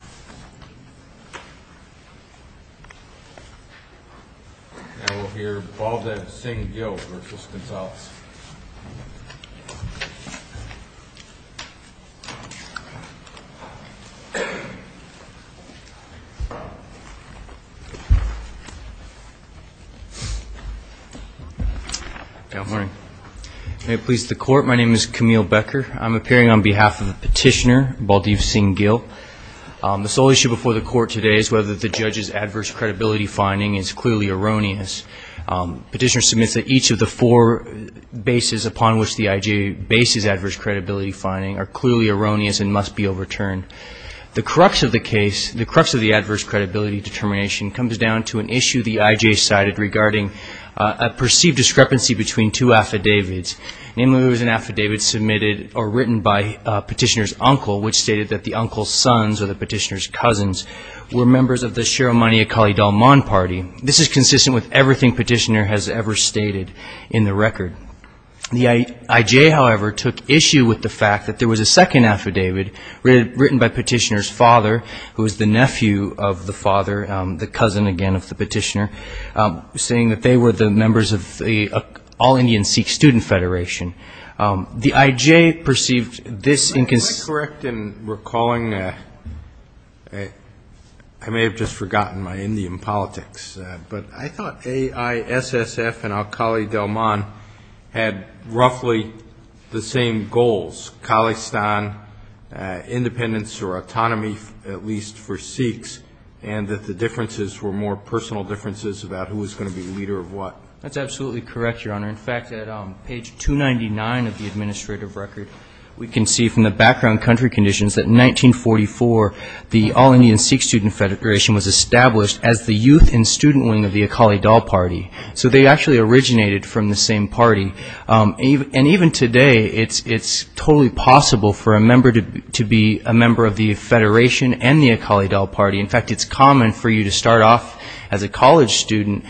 Now we'll hear Baldev Singh Gill v. Gonzales. Good morning. May it please the court, my name is Camille Becker. I'm appearing on behalf of the petitioner, Baldev Singh Gill. The sole issue before the court today is whether the judge's adverse credibility finding is clearly erroneous. Petitioner submits that each of the four bases upon which the IJ bases adverse credibility finding are clearly erroneous and must be overturned. The crux of the case, the crux of the adverse credibility determination comes down to an issue the IJ cited regarding a perceived discrepancy between two affidavits. Namely, it was an affidavit submitted or written by petitioner's uncle, which stated that the uncle's sons or the petitioner's cousins were members of the Sharamani Akali Dalman party. This is consistent with everything petitioner has ever stated in the record. The IJ, however, took issue with the fact that there was a second affidavit written by petitioner's father, who was the nephew of the father, the cousin again of the petitioner, saying that they were the members of the all-Indian Sikh student federation. The IJ perceived this inconsistent. I'm quite correct in recalling, I may have just forgotten my Indian politics, but I thought AISSF and Akali Dalman had roughly the same goals, Khalistan, independence or autonomy at least for Sikhs, and that the differences were more personal differences about who was going to be the leader of what. That's absolutely correct, Your Honor. In fact, at page 299 of the administrative record, we can see from the background country conditions that in 1944, the all-Indian Sikh student federation was established as the youth and student wing of the Akali Dal party. So they actually originated from the same party. And even today, it's totally possible for a member to be a member of the federation and the Akali Dal party. In fact, it's common for you to start off as a college student,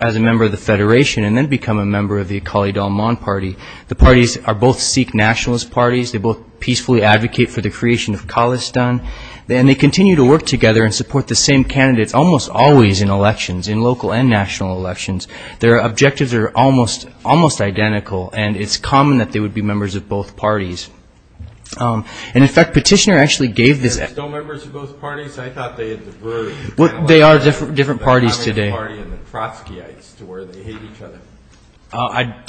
as a member of the federation, and then become a member of the Akali Dalman party. The parties are both Sikh nationalist parties. They both peacefully advocate for the creation of Khalistan. And they continue to work together and support the same candidates almost always in elections, in local and national elections. Their objectives are almost identical, and it's common that they would be members of both parties. And in fact, Petitioner actually gave this... They're still members of both parties? I thought they had diverged. They are different parties today. The Akali Dal party and the Trotskyites, to where they hate each other. I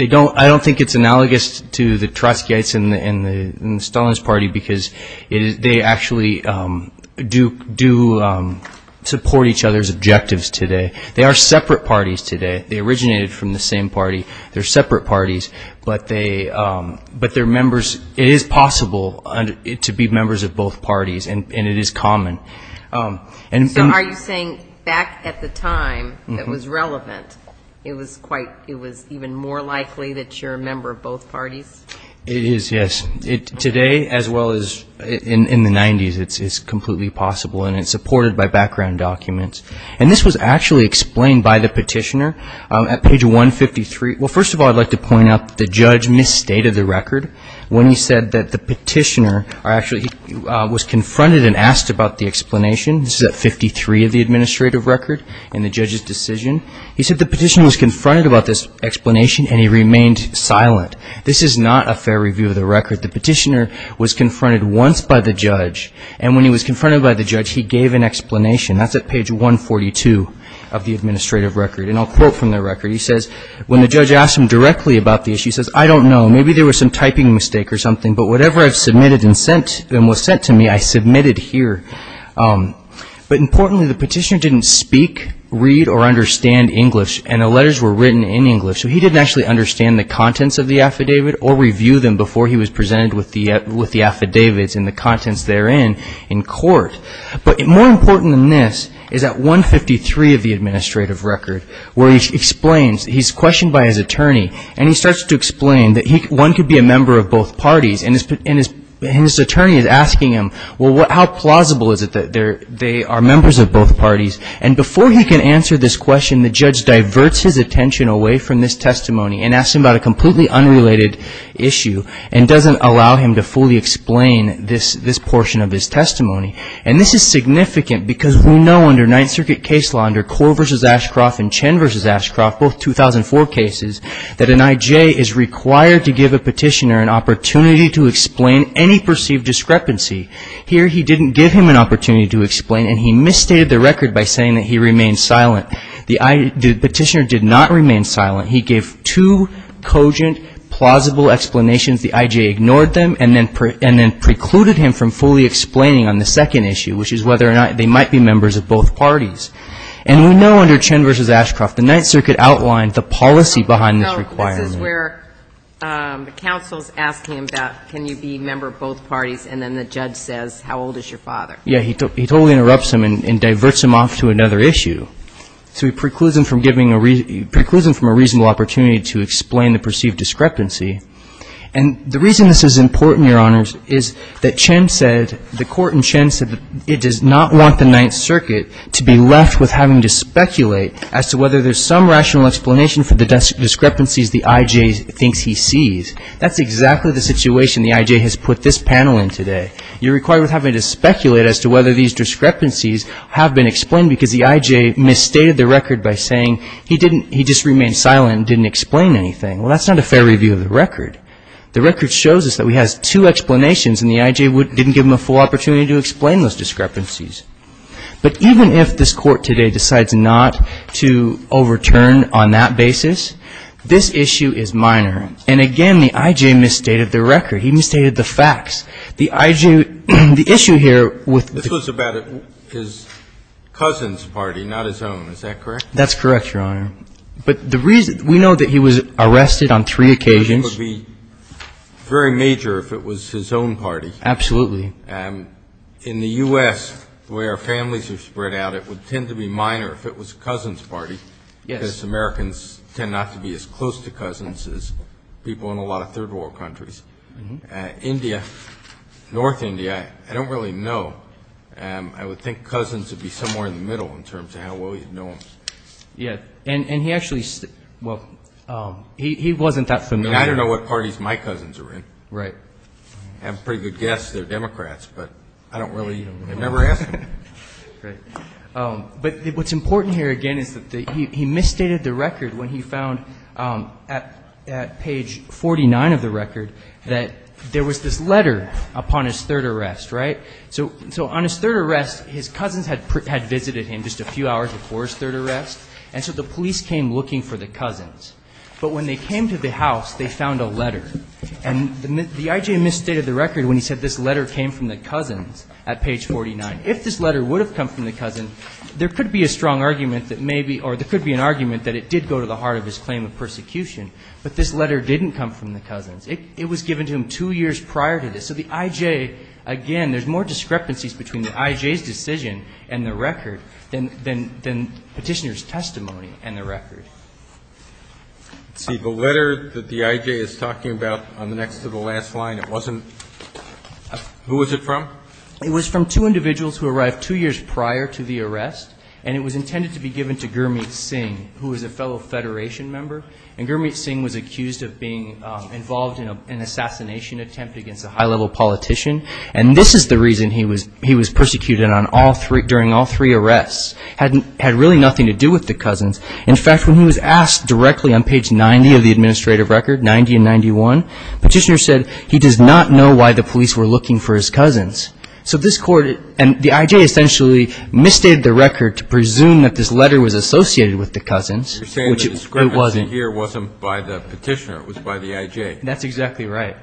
don't think it's analogous to the Trotskyites and the Stalinist party, because they actually do support each other's objectives today. They are separate parties today. They originated from the same party. They're separate parties, but they're members. It is possible to be members of both parties, and it is common. So are you saying back at the time it was relevant, it was even more likely that you're a member of both parties? It is, yes. Today, as well as in the 90s, it's completely possible, and it's supported by background documents. And this was actually explained by the Petitioner at page 153. Well, first of all, I'd like to point out that the judge misstated the record when he said that the Petitioner actually was confronted and asked about the explanation. This is at 53 of the administrative record in the judge's decision. He said the Petitioner was confronted about this explanation, and he remained silent. This is not a fair review of the record. The Petitioner was confronted once by the judge, and when he was confronted by the judge, he gave an explanation. That's at page 142 of the administrative record. And I'll quote from the record. He says, when the judge asked him directly about the issue, he says, I don't know. Maybe there was some typing mistake or something, but whatever I've submitted and was sent to me, I submitted here. But importantly, the Petitioner didn't speak, read, or understand English, and the letters were written in English. So he didn't actually understand the contents of the affidavit or But more important than this is at 153 of the administrative record, where he explains he's questioned by his attorney, and he starts to explain that one could be a member of both parties. And his attorney is asking him, well, how plausible is it that they are members of both parties? And before he can answer this question, the judge diverts his attention away from this testimony and asks him about a completely unrelated issue and doesn't allow him to fully explain this portion of his testimony. And this is significant because we know under Ninth Circuit case law, under Korr v. Ashcroft and Chen v. Ashcroft, both 2004 cases, that an I.J. is required to give a Petitioner an opportunity to explain any perceived discrepancy. Here, he didn't give him an opportunity to explain, and he misstated the record by saying that he remained silent. The Petitioner did not remain silent. He gave two cogent, plausible explanations. The I.J. ignored them and then precluded him from fully explaining on the second issue, which is whether or not they might be members of both parties. And we know under Chen v. Ashcroft, the Ninth Circuit outlined the policy behind this requirement. So this is where counsel is asking him about can you be a member of both parties, and then the judge says, how old is your father? Yes. He totally interrupts him and diverts him off to another issue. So he precludes him from giving a reason, precludes him from a reasonable opportunity to explain the perceived discrepancy. And the reason this is important, Your Honors, is that Chen said, the court in Chen said that it does not want the Ninth Circuit to be left with having to speculate as to whether there's some rational explanation for the discrepancies the I.J. thinks he sees. That's exactly the situation the I.J. has put this panel in today. You're required with having to speculate as to whether these discrepancies have been explained because the I.J. misstated the record by saying he didn't, he just remained silent and didn't explain anything. Well, that's not a fair review of the record. The record shows us that he has two explanations and the I.J. didn't give him a full opportunity to explain those discrepancies. But even if this Court today decides not to overturn on that basis, this issue is minor. And again, the I.J. misstated the record. He misstated the facts. The I.J. the issue here with the I.J. is that Chen's party is not his own, is that correct? That's correct, Your Honor. But the reason, we know that he was arrested on three occasions. And it would be very major if it was his own party. Absolutely. In the U.S., the way our families are spread out, it would tend to be minor if it was Cousin's party. Yes. Because Americans tend not to be as close to cousins as people in a lot of Third World countries. India, North India, I don't really know. I would think Cousins would be somewhere in the middle in terms of how well you'd know them. And he actually, well, he wasn't that familiar. I don't know what parties my cousins are in. I have a pretty good guess they're Democrats, but I don't really, I've never asked them. But what's important here, again, is that he misstated the record when he found, at page 49 of the record, that there was this letter upon his third arrest, right? So on his third arrest, his cousins had visited him just a few hours before his third arrest, and so the police came looking for the cousins. But when they came to the house, they found a letter. And the I.J. misstated the record when he said this letter came from the cousins at page 49. If this letter would have come from the cousin, there could be a strong argument that maybe, or there could be an argument that it did go to the heart of his claim of persecution. But this letter didn't come from the cousins. It was given to him two years prior to this. So the I.J., again, there's more discrepancies between the I.J.'s decision and the record than Petitioner's testimony and the record. Roberts. Let's see. The letter that the I.J. is talking about on the next to the last line, it wasn't who was it from? It was from two individuals who arrived two years prior to the arrest, and it was intended to be given to Gurmeet Singh, who was a fellow Federation member. And Gurmeet Singh was accused of being involved in an assassination attempt against a high level politician. And this is the reason he was persecuted during all three arrests, had really nothing to do with the cousins. In fact, when he was asked directly on page 90 of the administrative record, 90 and 91, Petitioner said he does not know why the police were looking for his cousins. So this court, and the I.J. essentially misstated the record to presume that this letter was associated with the cousins. You're saying that the description here wasn't by the Petitioner, it was by the I.J. That's exactly right.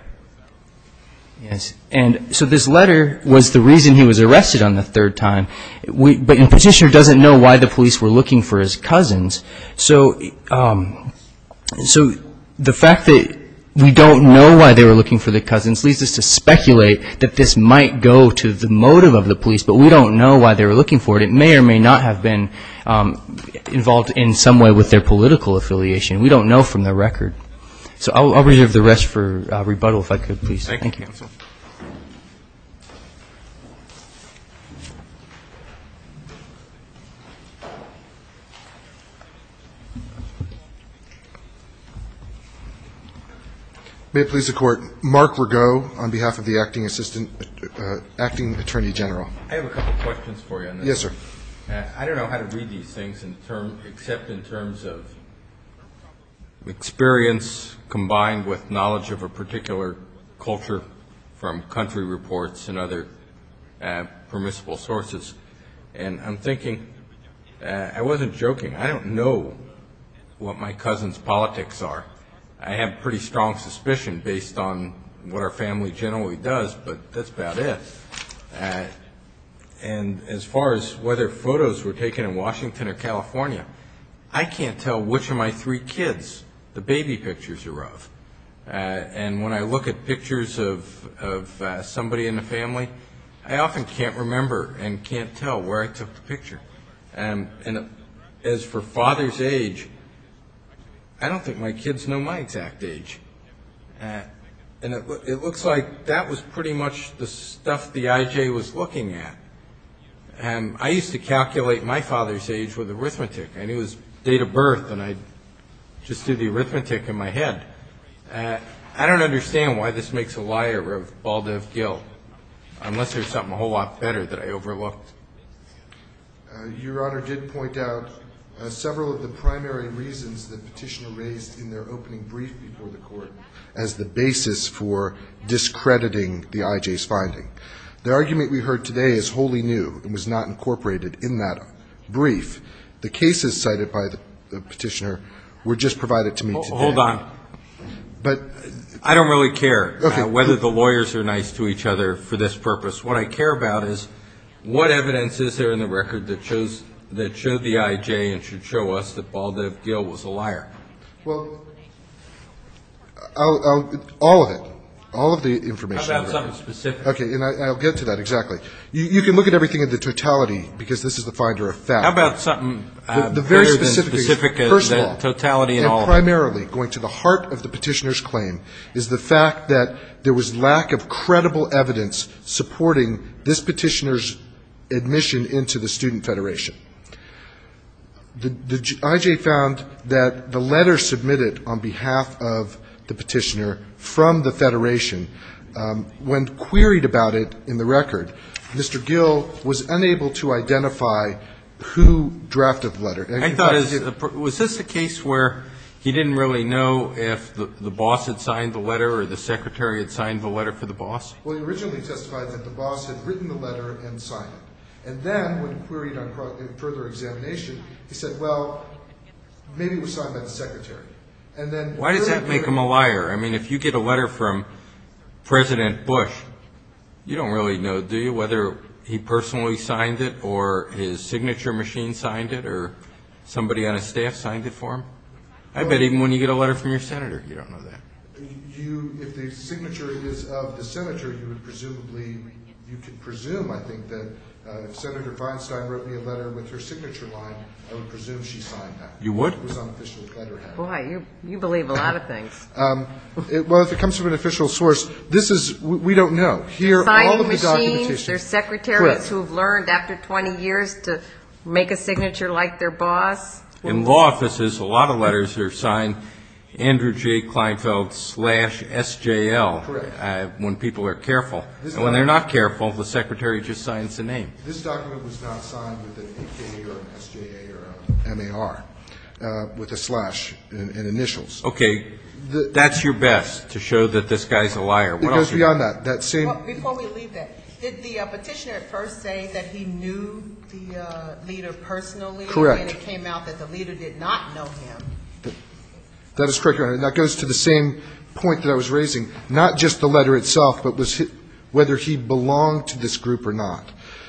Yes. And so this letter was the reason he was arrested on the third time, but Petitioner doesn't know why the police were looking for his cousins. So the fact that we don't know why they were looking for the cousins leads us to speculate that this might go to the motive of the police, but we don't know why they were looking for it. And it may or may not have been involved in some way with their political affiliation. We don't know from the record. So I'll reserve the rest for rebuttal, if I could, please. Thank you, counsel. May it please the Court, Mark Rago, on behalf of the Acting Attorney General. I have a couple questions for you on this. Yes, sir. I don't know how to read these things except in terms of experience combined with knowledge of a particular culture from country reports and other permissible sources. And I'm thinking, I wasn't joking, I don't know what my cousins' politics are. I have pretty strong suspicion based on what our family generally does, but that's about it. And as far as whether photos were taken in Washington or California, I can't tell which of my three kids the baby pictures are of. And when I look at pictures of somebody in the family, I often can't remember and can't tell where I took the picture. And as for father's age, I don't think my kids know my exact age. And it looks like that was pretty much the stuff the I.J. was looking at. And I used to calculate my father's age with arithmetic. I knew his date of birth, and I just did the arithmetic in my head. I don't understand why this makes a liar of Baldiv Gill, unless there's something a whole lot better that I overlooked. Your Honor did point out several of the primary reasons that Petitioner raised in their opening brief before the court as the basis for discrediting the I.J.'s finding. The argument we heard today is wholly new and was not incorporated in that brief. The cases cited by the Petitioner were just provided to me today. Hold on. I don't really care whether the lawyers are nice to each other for this purpose. What I care about is what evidence is there in the record that showed the I.J. and should show us that Baldiv Gill was a liar? Well, all of it. All of the information. How about something specific? Okay. And I'll get to that. Exactly. You can look at everything in the totality, because this is the finder of fact. How about something better than specific? First of all, and primarily going to the heart of the Petitioner's claim, is the fact that there was lack of credible evidence supporting this Petitioner's admission into the Student Federation. The I.J. found that the letter submitted on behalf of the Petitioner from the Federation, when queried about it in the record, Mr. Gill was unable to identify who drafted the letter. I thought, was this a case where he didn't really know if the boss had signed the letter or the secretary had signed the letter for the boss? Well, he originally testified that the boss had written the letter and signed it. And then, when queried on further examination, he said, well, maybe it was signed by the secretary. Why does that make him a liar? I mean, if you get a letter from President Bush, you don't really know, do you, whether he personally signed it or his signature machine signed it or somebody on his staff signed it for him? I bet even when you get a letter from your senator, you don't know that. You, if the signature is of the senator, you would presumably, you could presume, I think, that if Senator Feinstein wrote me a letter with her signature on it, I would presume she signed that. You would? Boy, you believe a lot of things. Well, if it comes from an official source, this is, we don't know. Signing machines, there's secretaries who have learned after 20 years to make a signature like their boss. In law offices, a lot of letters are signed Andrew J. Kleinfeld slash S.J.L. Correct. When people are careful. And when they're not careful, the secretary just signs the name. This document was not signed with an A.K. or an S.J.A. or an M.A.R. With a slash in initials. Okay. That's your best, to show that this guy's a liar. It goes beyond that. Before we leave that, did the petitioner at first say that he knew the leader personally? Correct. And it came out that the leader did not know him. That is correct, Your Honor. That goes to the same point that I was raising. Not just the letter itself, but whether he belonged to this group or not.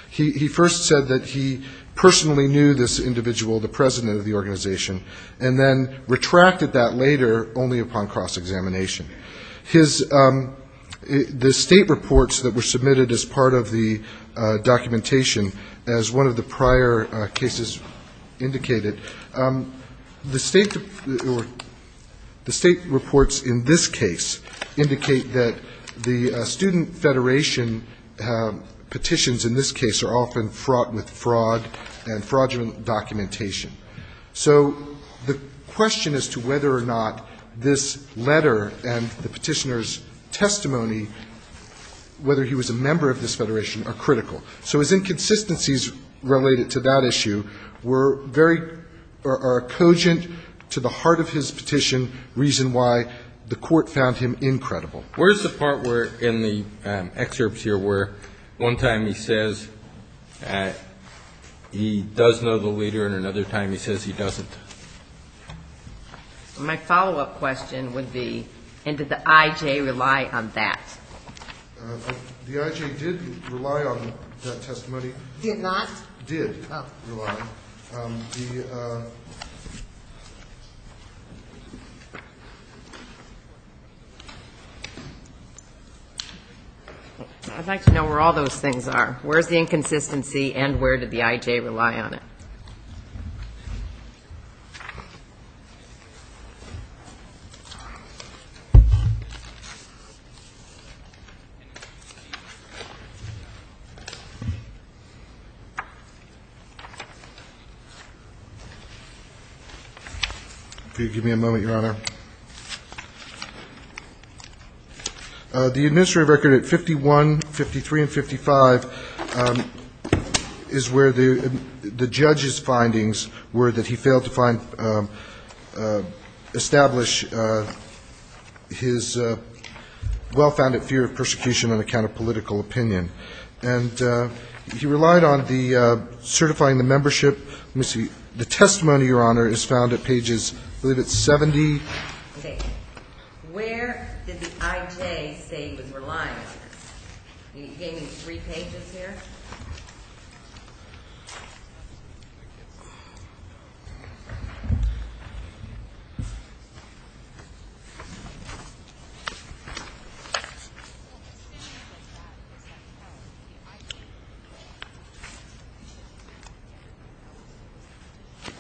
He first said that he personally knew this individual, the president of the organization, and then retracted that later only upon cross-examination. His, the state reports that were submitted as part of the documentation, as one of the prior cases indicated, the state reports in this case indicate that the student federation petitions in this case are often fraught with fraud and fraudulent documentation. So the question as to whether or not this letter and the petitioner's testimony, whether he was a member of this federation, are critical. So his inconsistencies related to that issue were very, are cogent to the heart of his petition, reason why the court found him incredible. Where's the part where in the excerpts here where one time he says he does know the leader and another time he says he doesn't? My follow-up question would be, and did the I.J. rely on that? The I.J. did rely on that testimony. Did not? Did rely. Oh. I'd like to know where all those things are. Where's the inconsistency and where did the I.J. rely on it? Could you give me a moment, Your Honor? The administrative record at 51, 53, and 55 is where the judge's findings were that he failed to establish his well-founded fear of persecution on account of political opinion. And he relied on the certifying the membership. Let me see. The testimony, Your Honor, is found at pages, I believe it's 70. Okay. Where did the I.J. say he was relying on this? Can you give me three pages here?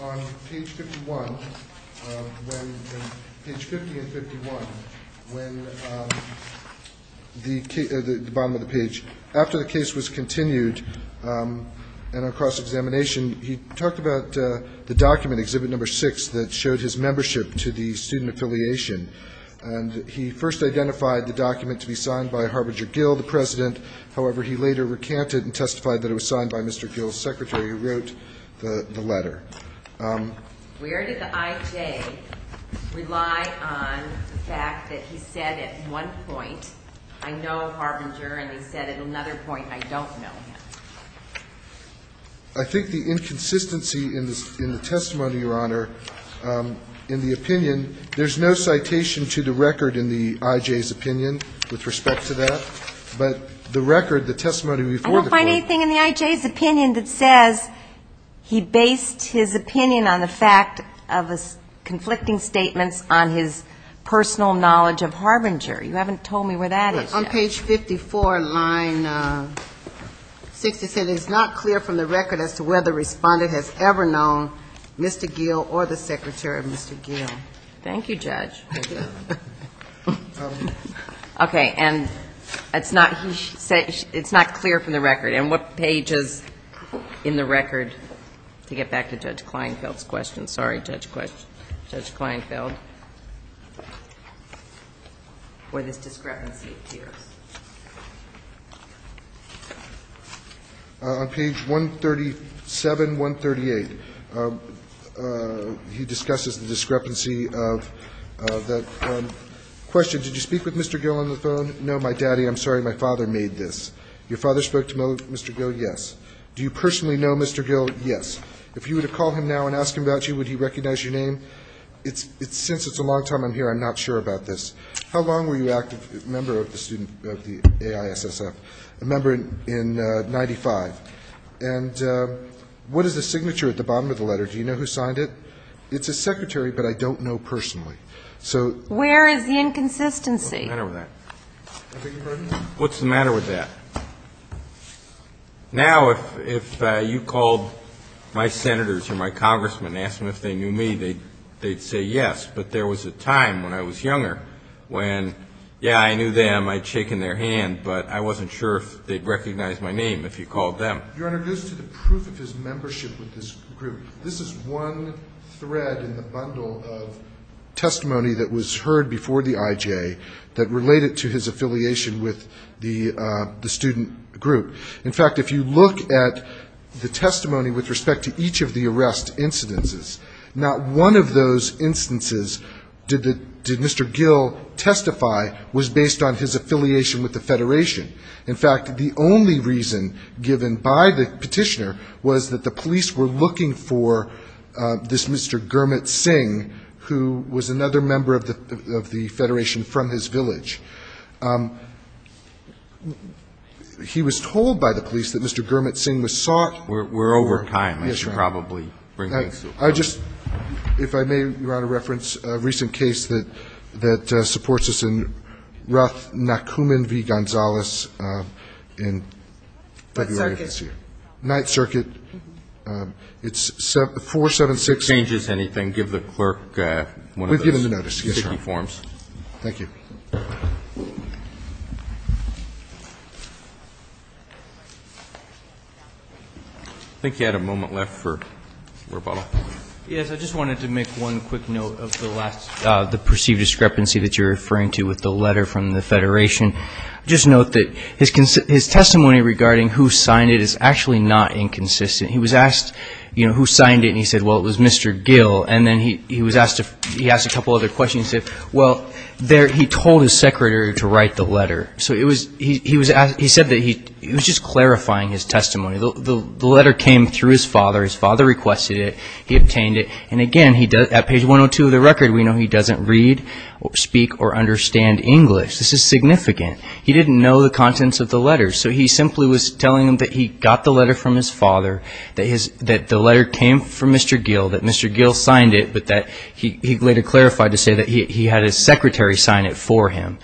On page 51, when page 50 and 51, when the bottom of the page, after the case was continued and on cross-examination, he talked about the document, Exhibit No. 6, that showed his membership to the student affiliation. And he first identified the document to be signed by Harbinger Gill, the president. However, he later recanted and testified that it was signed by Mr. Gill's secretary, who wrote the letter. Where did the I.J. rely on the fact that he said at one point, I know Harbinger, and he said at another point, I don't know him? I think the inconsistency in the testimony, Your Honor, in the opinion, there's no citation to the record in the I.J.'s opinion with respect to that. But the record, the testimony before the court. I don't find anything in the I.J.'s opinion that says he based his opinion on the fact of conflicting statements on his personal knowledge of Harbinger. You haven't told me where that is yet. On page 54, line 67, it's not clear from the record as to whether the respondent has ever known Mr. Gill or the secretary of Mr. Gill. Thank you, Judge. Okay, and it's not clear from the record. And what page is in the record to get back to Judge Kleinfeld's question? Sorry, Judge Kleinfeld. Where this discrepancy appears. On page 137, 138, he discusses the discrepancy of that question. Did you speak with Mr. Gill on the phone? No, my daddy, I'm sorry, my father made this. Your father spoke to Mr. Gill? Yes. Do you personally know Mr. Gill? Yes. If you were to call him now and ask him about you, would he recognize your name? Since it's a long time I'm here, I'm not sure about this. How long were you active member of the AISSF? A member in 95. And what is the signature at the bottom of the letter? Do you know who signed it? It's his secretary, but I don't know personally. Where is the inconsistency? What's the matter with that? I beg your pardon? What's the matter with that? Now, if you called my senators or my congressmen and asked them if they knew me, they'd say yes. But there was a time when I was younger when, yeah, I knew them, I'd shaken their hand, but I wasn't sure if they'd recognize my name if you called them. You're introduced to the proof of his membership with this group. This is one thread in the bundle of testimony that was heard before the IJ that related to his affiliation with the student group. In fact, if you look at the testimony with respect to each of the arrest incidences, not one of those instances did Mr. Gill testify was based on his affiliation with the Federation. In fact, the only reason given by the petitioner was that the police were looking for this Mr. Gurmit Singh, who was another member of the Federation from his village. He was told by the police that Mr. Gurmit Singh was sought. We're over time. Yes, sir. I should probably bring things to a close. If I may, Your Honor, reference a recent case that supports us in Rath Nakuman v. Gonzales in February of this year. What circuit? Ninth Circuit. It's 476. If it changes anything, give the clerk one of those. We've given the notice. Yes, sir. Thank you. Thank you. I think you had a moment left for rebuttal. Yes, I just wanted to make one quick note of the last, the perceived discrepancy that you're referring to with the letter from the Federation. Just note that his testimony regarding who signed it is actually not inconsistent. He was asked, you know, who signed it, and he said, well, it was Mr. Gill. And then he asked a couple other questions. He said, well, he told his secretary to write the letter. So he said that he was just clarifying his testimony. The letter came through his father. His father requested it. He obtained it. And, again, at page 102 of the record, we know he doesn't read, speak, or understand English. This is significant. He didn't know the contents of the letter. So he simply was telling him that he got the letter from his father, that the letter came from Mr. Gill, that Mr. Gill signed it, but that he later clarified to say that he had his secretary sign it for him.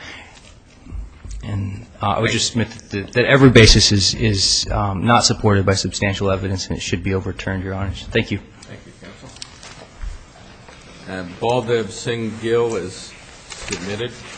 And I would just submit that every basis is not supported by substantial evidence, and it should be overturned, Your Honor. Thank you. Thank you, counsel. And Baldev Singh Gill is submitted.